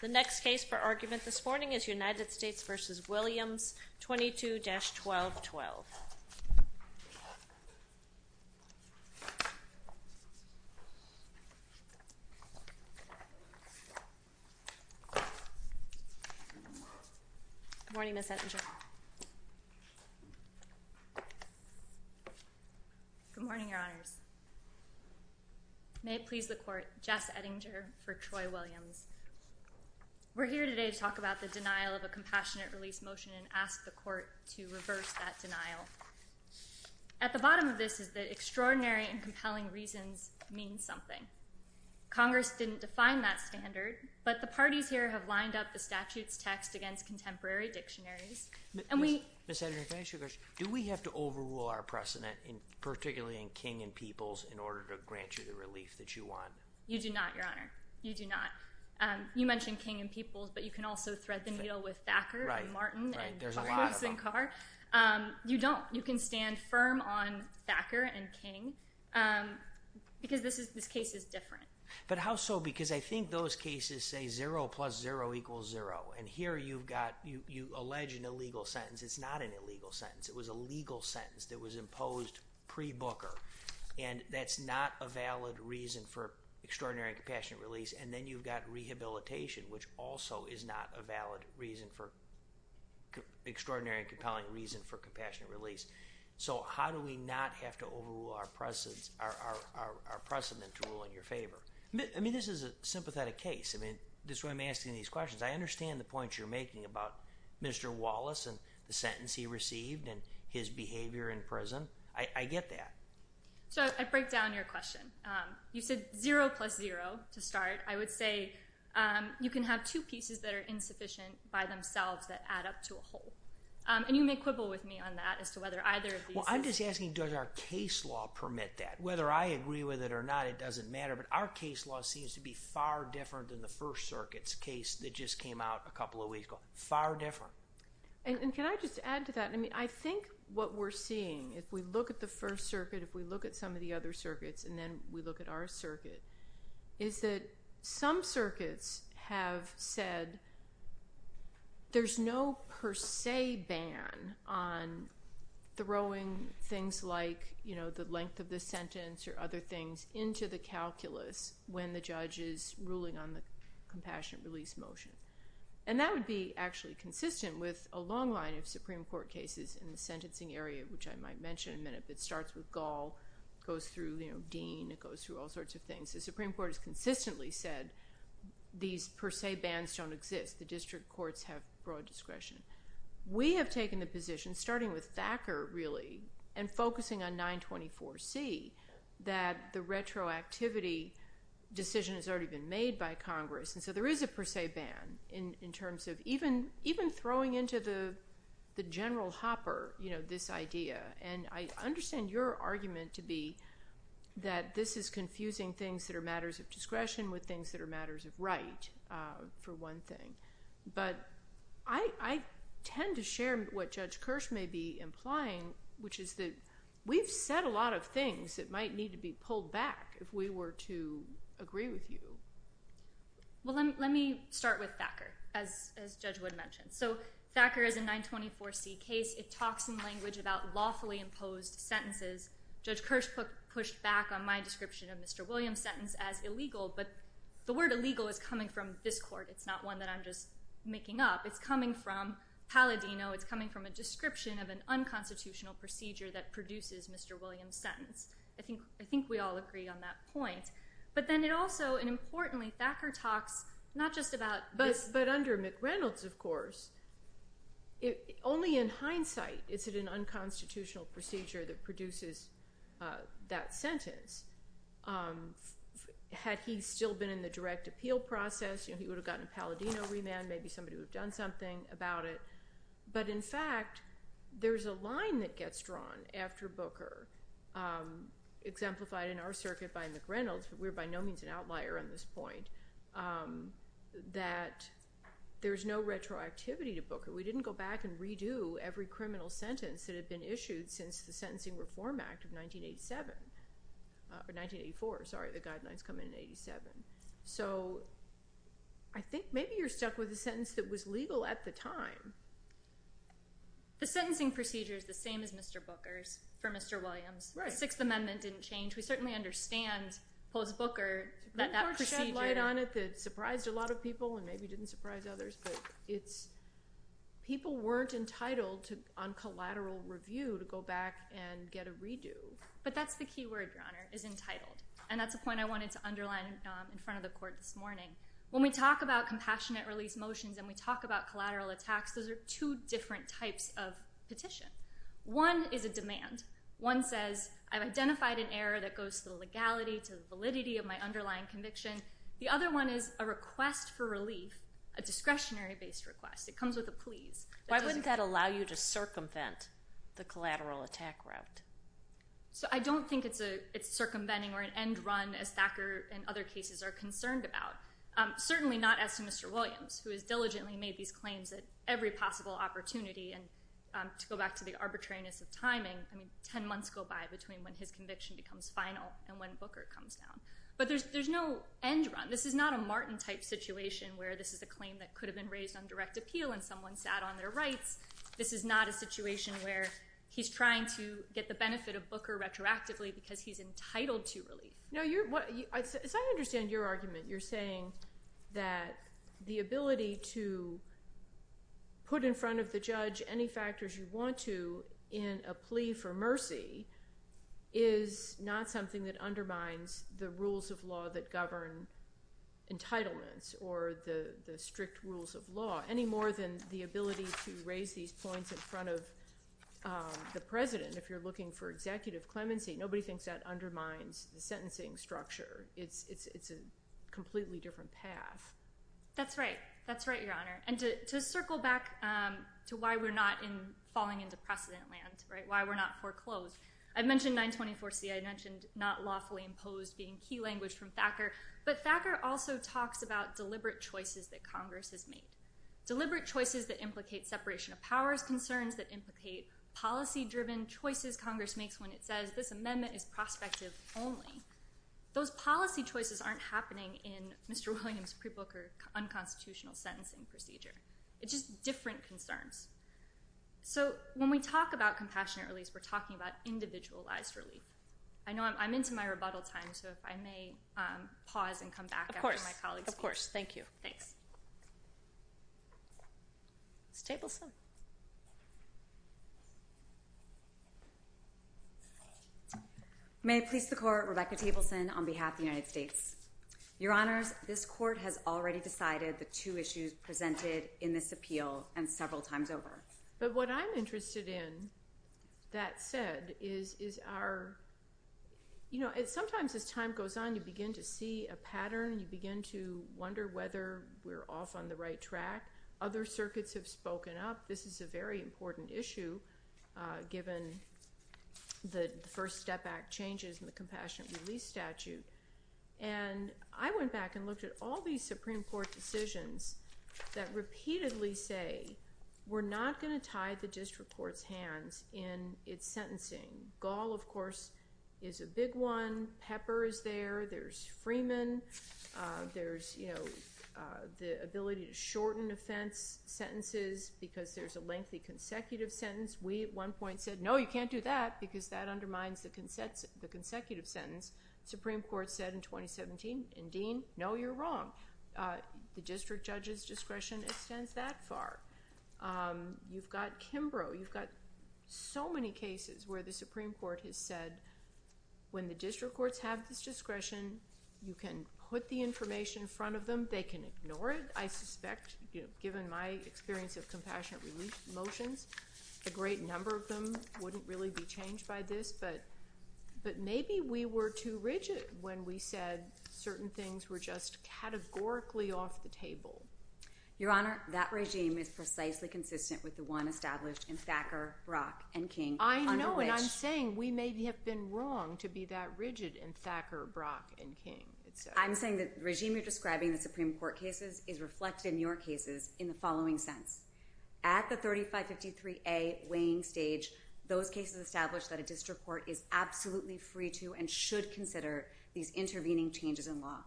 The next case for argument this morning is United States v. Williams 22-1212. Good morning, Ms. Ettinger. Good morning, Your Honors. May it please the Court, Jess Ettinger for Troy Williams. We're here today to talk about the denial of a compassionate release motion and ask the Court to reverse that denial. At the bottom of this is that extraordinary and compelling reasons mean something. Congress didn't define that standard, but the parties here have lined up the statute's text against contemporary dictionaries, and we— Ms. Ettinger, can I ask you a question? Do we have to overrule our precedent, particularly in King and Peoples, in order to grant you the relief that you want? You do not, Your Honor. You do not. You mentioned King and Peoples, but you can also thread the needle with Thacker and Martin— Right, right. There's a lot of them. You don't. You can stand firm on Thacker and King because this case is different. But how so? Because I think those cases say zero plus zero equals zero, and here you've got—you allege an illegal sentence. It's not an illegal sentence. It was a legal sentence that was imposed pre-Booker, and that's not a valid reason for extraordinary and compassionate release. And then you've got rehabilitation, which also is not a valid reason for—extraordinary and compelling reason for compassionate release. So how do we not have to overrule our precedent to rule in your favor? I mean, this is a sympathetic case. I mean, this is why I'm asking these questions. I understand the points you're making about Mr. Wallace and the sentence he received and his behavior in prison. I get that. So I break down your question. You said zero plus zero to start. I would say you can have two pieces that are insufficient by themselves that add up to a whole. And you may quibble with me on that as to whether either of these— Well, I'm just asking, does our case law permit that? Whether I agree with it or not, it doesn't matter. But our case law seems to be far different than the First Circuit's case that just came out a couple of weeks ago. Far different. And can I just add to that? I mean, I think what we're seeing, if we look at the First Circuit, if we look at some of the other circuits, and then we look at our circuit, is that some circuits have said there's no per se ban on throwing things like, you know, the length of the sentence or other things into the calculus when the judge is ruling on the compassionate release motion. And that would be actually consistent with a long line of Supreme Court cases in the sentencing area, which I might mention in a minute. It starts with Gall, goes through, you know, Dean. It goes through all sorts of things. The Supreme Court has consistently said these per se bans don't exist. The district courts have broad discretion. We have taken the position, starting with Thacker, really, and focusing on 924C, that the retroactivity decision has already been made by Congress. And so there is a per se ban in terms of even throwing into the general hopper, you know, this idea. And I understand your argument to be that this is confusing things that are matters of discretion with things that are matters of right, for one thing. But I tend to share what Judge Kirsch may be implying, which is that we've said a lot of things that might need to be pulled back if we were to agree with you. Well, let me start with Thacker, as Judge Wood mentioned. So Thacker is a 924C case. It talks in language about lawfully imposed sentences. Judge Kirsch pushed back on my description of Mr. Williams' sentence as illegal, but the word illegal is coming from this court. It's not one that I'm just making up. It's coming from Palladino. It's coming from a description of an unconstitutional procedure that produces Mr. Williams' sentence. I think we all agree on that point. But then it also, and importantly, Thacker talks not just about this. But under McReynolds, of course, only in hindsight is it an unconstitutional procedure that produces that sentence. Had he still been in the direct appeal process, you know, he would have gotten Palladino remand, maybe somebody would have done something about it. But, in fact, there's a line that gets drawn after Booker, exemplified in our circuit by McReynolds, but we're by no means an outlier on this point, that there's no retroactivity to Booker. We didn't go back and redo every criminal sentence that had been issued since the Sentencing Reform Act of 1984. Sorry, the guidelines come in in 1987. So I think maybe you're stuck with a sentence that was legal at the time. The sentencing procedure is the same as Mr. Booker's for Mr. Williams. Right. The Sixth Amendment didn't change. We certainly understand post-Booker that that procedure— Booker shed light on it that surprised a lot of people and maybe didn't surprise others. But people weren't entitled on collateral review to go back and get a redo. But that's the key word, Your Honor, is entitled. And that's a point I wanted to underline in front of the Court this morning. When we talk about compassionate release motions and we talk about collateral attacks, those are two different types of petition. One is a demand. One says, I've identified an error that goes to the legality, to the validity of my underlying conviction. The other one is a request for relief, a discretionary-based request. It comes with a please. Why wouldn't that allow you to circumvent the collateral attack route? So I don't think it's circumventing or an end run, as Thacker and other cases are concerned about, certainly not as to Mr. Williams, who has diligently made these claims at every possible opportunity. And to go back to the arbitrariness of timing, I mean, 10 months go by between when his conviction becomes final and when Booker comes down. But there's no end run. This is not a Martin-type situation where this is a claim that could have been raised on direct appeal and someone sat on their rights. This is not a situation where he's trying to get the benefit of Booker retroactively because he's entitled to relief. As I understand your argument, you're saying that the ability to put in front of the judge any factors you want to in a plea for mercy is not something that undermines the rules of law that govern entitlements or the strict rules of law, any more than the ability to raise these points in front of the president, if you're looking for executive clemency. Nobody thinks that undermines the sentencing structure. It's a completely different path. That's right. That's right, Your Honor. And to circle back to why we're not falling into precedent land, why we're not foreclosed, I mentioned 924C. I mentioned not lawfully imposed being key language from Thacker. But Thacker also talks about deliberate choices that Congress has made, deliberate choices that implicate separation of powers concerns, that implicate policy-driven choices Congress makes when it says this amendment is prospective only. Those policy choices aren't happening in Mr. Williams' pre-Booker unconstitutional sentencing procedure. It's just different concerns. So when we talk about compassionate relief, we're talking about individualized relief. I know I'm into my rebuttal time, so if I may pause and come back after my colleagues finish. Of course. Thank you. Thanks. Ms. Tableson. May it please the Court, Rebecca Tableson on behalf of the United States. Your Honors, this Court has already decided the two issues presented in this appeal and several times over. But what I'm interested in, that said, is our, you know, sometimes as time goes on, you begin to see a pattern. You begin to wonder whether we're off on the right track. Other circuits have spoken up. This is a very important issue given the First Step Act changes and the Compassionate Relief Statute. And I went back and looked at all these Supreme Court decisions that repeatedly say we're not going to tie the district court's hands in its sentencing. Gall, of course, is a big one. Pepper is there. There's Freeman. There's, you know, the ability to shorten offense sentences because there's a lengthy consecutive sentence. We at one point said, no, you can't do that because that undermines the consecutive sentence. The Supreme Court said in 2017, and Dean, no, you're wrong. The district judge's discretion extends that far. You've got Kimbrough. You've got so many cases where the Supreme Court has said when the district courts have this discretion, you can put the information in front of them. They can ignore it, I suspect, given my experience of Compassionate Relief motions. A great number of them wouldn't really be changed by this. But maybe we were too rigid when we said certain things were just categorically off the table. Your Honor, that regime is precisely consistent with the one established in Thacker, Brock, and King. I know, and I'm saying we may have been wrong to be that rigid in Thacker, Brock, and King. I'm saying the regime you're describing in the Supreme Court cases is reflected in your cases in the following sense. At the 3553A weighing stage, those cases establish that a district court is absolutely free to and should consider these intervening changes in law.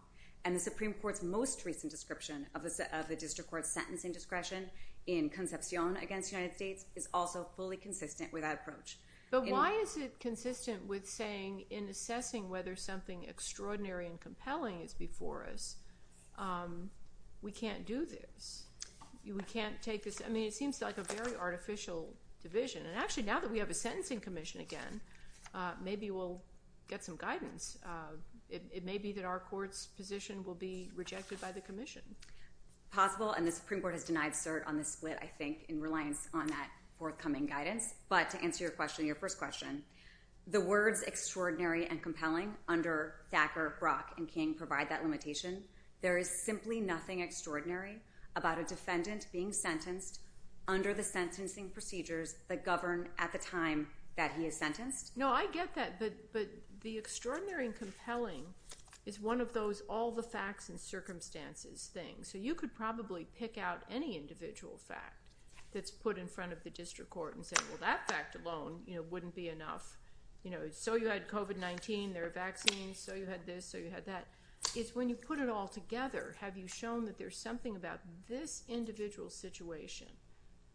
And the Supreme Court's most recent description of the district court's sentencing discretion in Concepcion against the United States is also fully consistent with that approach. But why is it consistent with saying in assessing whether something extraordinary and compelling is before us, we can't do this? We can't take this? I mean, it seems like a very artificial division. And actually, now that we have a sentencing commission again, maybe we'll get some guidance. It may be that our court's position will be rejected by the commission. Possible, and the Supreme Court has denied cert on this split, I think, in reliance on that forthcoming guidance. But to answer your question, your first question, the words extraordinary and compelling under Thacker, Brock, and King provide that limitation. There is simply nothing extraordinary about a defendant being sentenced under the sentencing procedures that govern at the time that he is sentenced. No, I get that. But the extraordinary and compelling is one of those all the facts and circumstances things. So you could probably pick out any individual fact that's put in front of the district court and say, well, that fact alone wouldn't be enough. So you had COVID-19, there are vaccines, so you had this, so you had that. It's when you put it all together, have you shown that there's something about this individual situation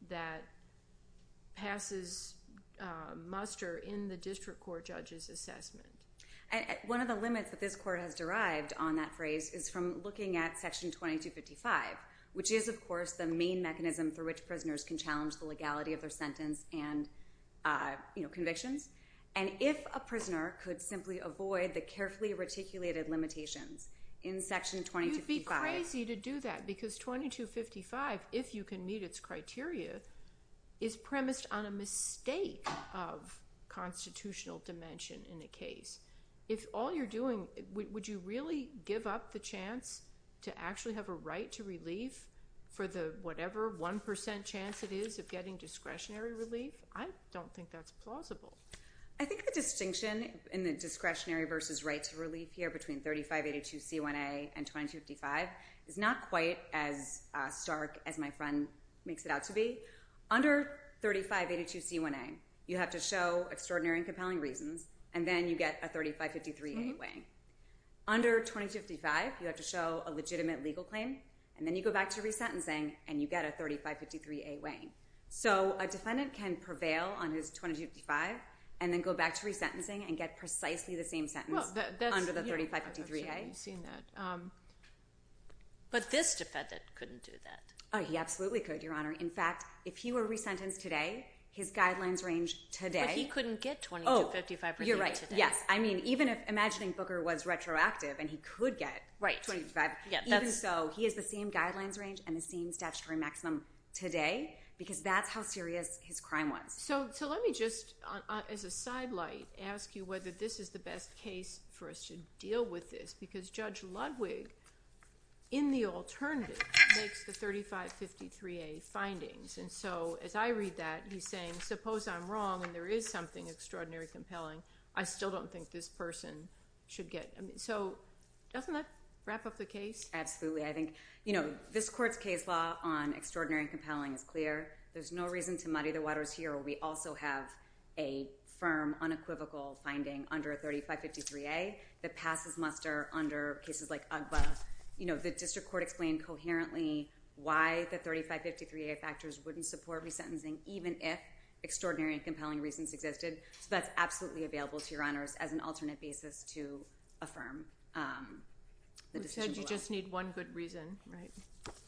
that passes muster in the district court judge's assessment? One of the limits that this court has derived on that phrase is from looking at Section 2255, which is, of course, the main mechanism through which prisoners can challenge the legality of their sentence and convictions. And if a prisoner could simply avoid the carefully reticulated limitations in Section 2255— if all you're doing—would you really give up the chance to actually have a right to relief for the whatever 1% chance it is of getting discretionary relief? I don't think that's plausible. I think the distinction in the discretionary versus right to relief here between 3582C1A and 2255 is not quite as stark as my friend makes it out to be. Under 3582C1A, you have to show extraordinary and compelling reasons, and then you get a 3553A weighing. Under 2255, you have to show a legitimate legal claim, and then you go back to resentencing, and you get a 3553A weighing. So a defendant can prevail on his 2255 and then go back to resentencing and get precisely the same sentence under the 3553A. I've certainly seen that. But this defendant couldn't do that. He absolutely could, Your Honor. In fact, if he were resentenced today, his guidelines range today— But he couldn't get 2255 today. Oh, you're right. Yes. I mean, even if—imagining Booker was retroactive and he could get 2255— Right. Even so, he has the same guidelines range and the same statutory maximum today because that's how serious his crime was. So let me just, as a sidelight, ask you whether this is the best case for us to deal with this because Judge Ludwig, in the alternative, makes the 3553A findings. And so as I read that, he's saying, suppose I'm wrong and there is something extraordinary and compelling. I still don't think this person should get—so doesn't that wrap up the case? Absolutely. I think this court's case law on extraordinary and compelling is clear. There's no reason to muddy the waters here. We also have a firm, unequivocal finding under 3553A that passes muster under cases like UGBA. The district court explained coherently why the 3553A factors wouldn't support resentencing even if extraordinary and compelling reasons existed. So that's absolutely available to Your Honors as an alternate basis to affirm the decision below. You said you just need one good reason, right?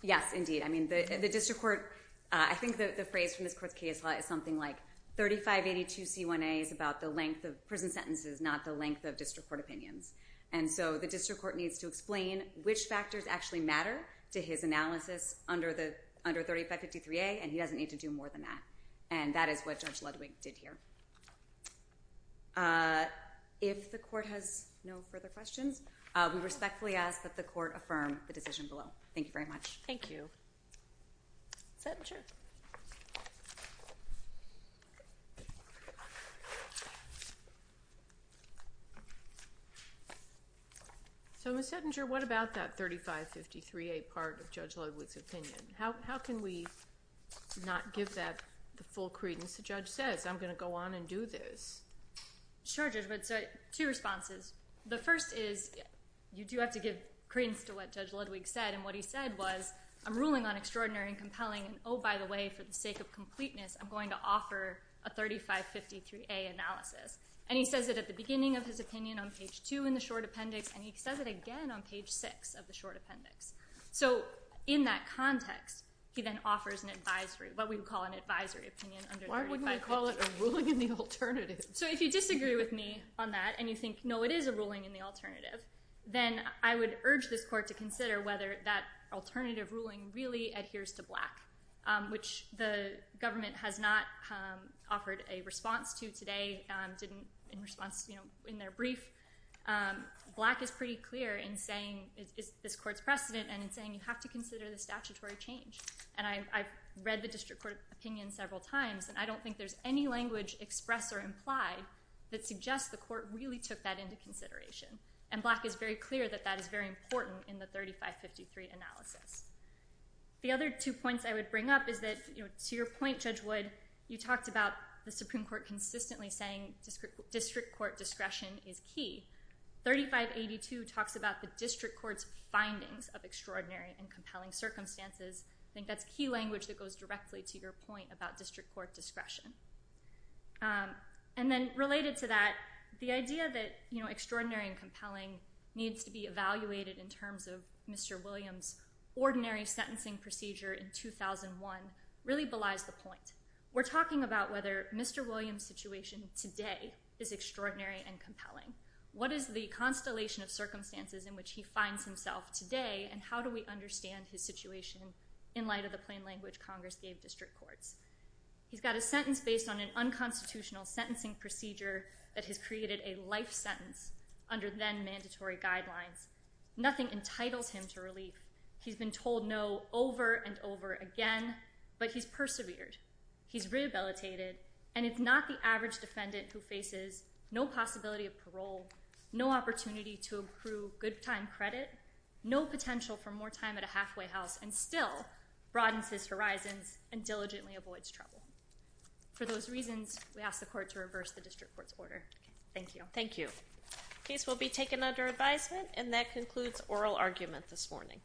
Yes, indeed. I mean, the district court—I think the phrase from this court's case law is something like 3582C1A is about the length of prison sentences, not the length of district court opinions. And so the district court needs to explain which factors actually matter to his analysis under 3553A, and he doesn't need to do more than that. And that is what Judge Ludwig did here. If the court has no further questions, we respectfully ask that the court affirm the decision below. Thank you very much. Thank you. Settinger? So, Ms. Settinger, what about that 3553A part of Judge Ludwig's opinion? How can we not give that the full credence the judge says? I'm going to go on and do this. Sure, Judge Wood. So two responses. The first is you do have to give credence to what Judge Ludwig said, and what he said was, I'm ruling on extraordinary and compelling, and, oh, by the way, for the sake of completeness, I'm going to offer a 3553A analysis. And he says it at the beginning of his opinion on page 2 in the short appendix, and he says it again on page 6 of the short appendix. So in that context, he then offers an advisory, what we would call an advisory opinion under 3553A. Why wouldn't we call it a ruling in the alternative? So if you disagree with me on that and you think, no, it is a ruling in the alternative, then I would urge this court to consider whether that alternative ruling really adheres to Black, which the government has not offered a response to today in their brief. Black is pretty clear in saying this court's precedent and in saying you have to consider the statutory change. And I've read the district court opinion several times, and I don't think there's any language expressed or implied that suggests the court really took that into consideration. And Black is very clear that that is very important in the 3553 analysis. The other two points I would bring up is that, to your point, Judge Wood, you talked about the Supreme Court consistently saying district court discretion is key. 3582 talks about the district court's findings of extraordinary and compelling circumstances. I think that's key language that goes directly to your point about district court discretion. And then related to that, the idea that extraordinary and compelling needs to be evaluated in terms of Mr. Williams' ordinary sentencing procedure in 2001 really belies the point. We're talking about whether Mr. Williams' situation today is extraordinary and compelling. What is the constellation of circumstances in which he finds himself today, and how do we understand his situation in light of the plain language Congress gave district courts? He's got a sentence based on an unconstitutional sentencing procedure that has created a life sentence under then-mandatory guidelines. Nothing entitles him to relief. He's been told no over and over again, but he's persevered. He's rehabilitated, and it's not the average defendant who faces no possibility of parole, no opportunity to accrue good time credit, no potential for more time at a halfway house, and still broadens his horizons and diligently avoids trouble. For those reasons, we ask the court to reverse the district court's order. Thank you. Thank you. The case will be taken under advisement, and that concludes oral argument this morning.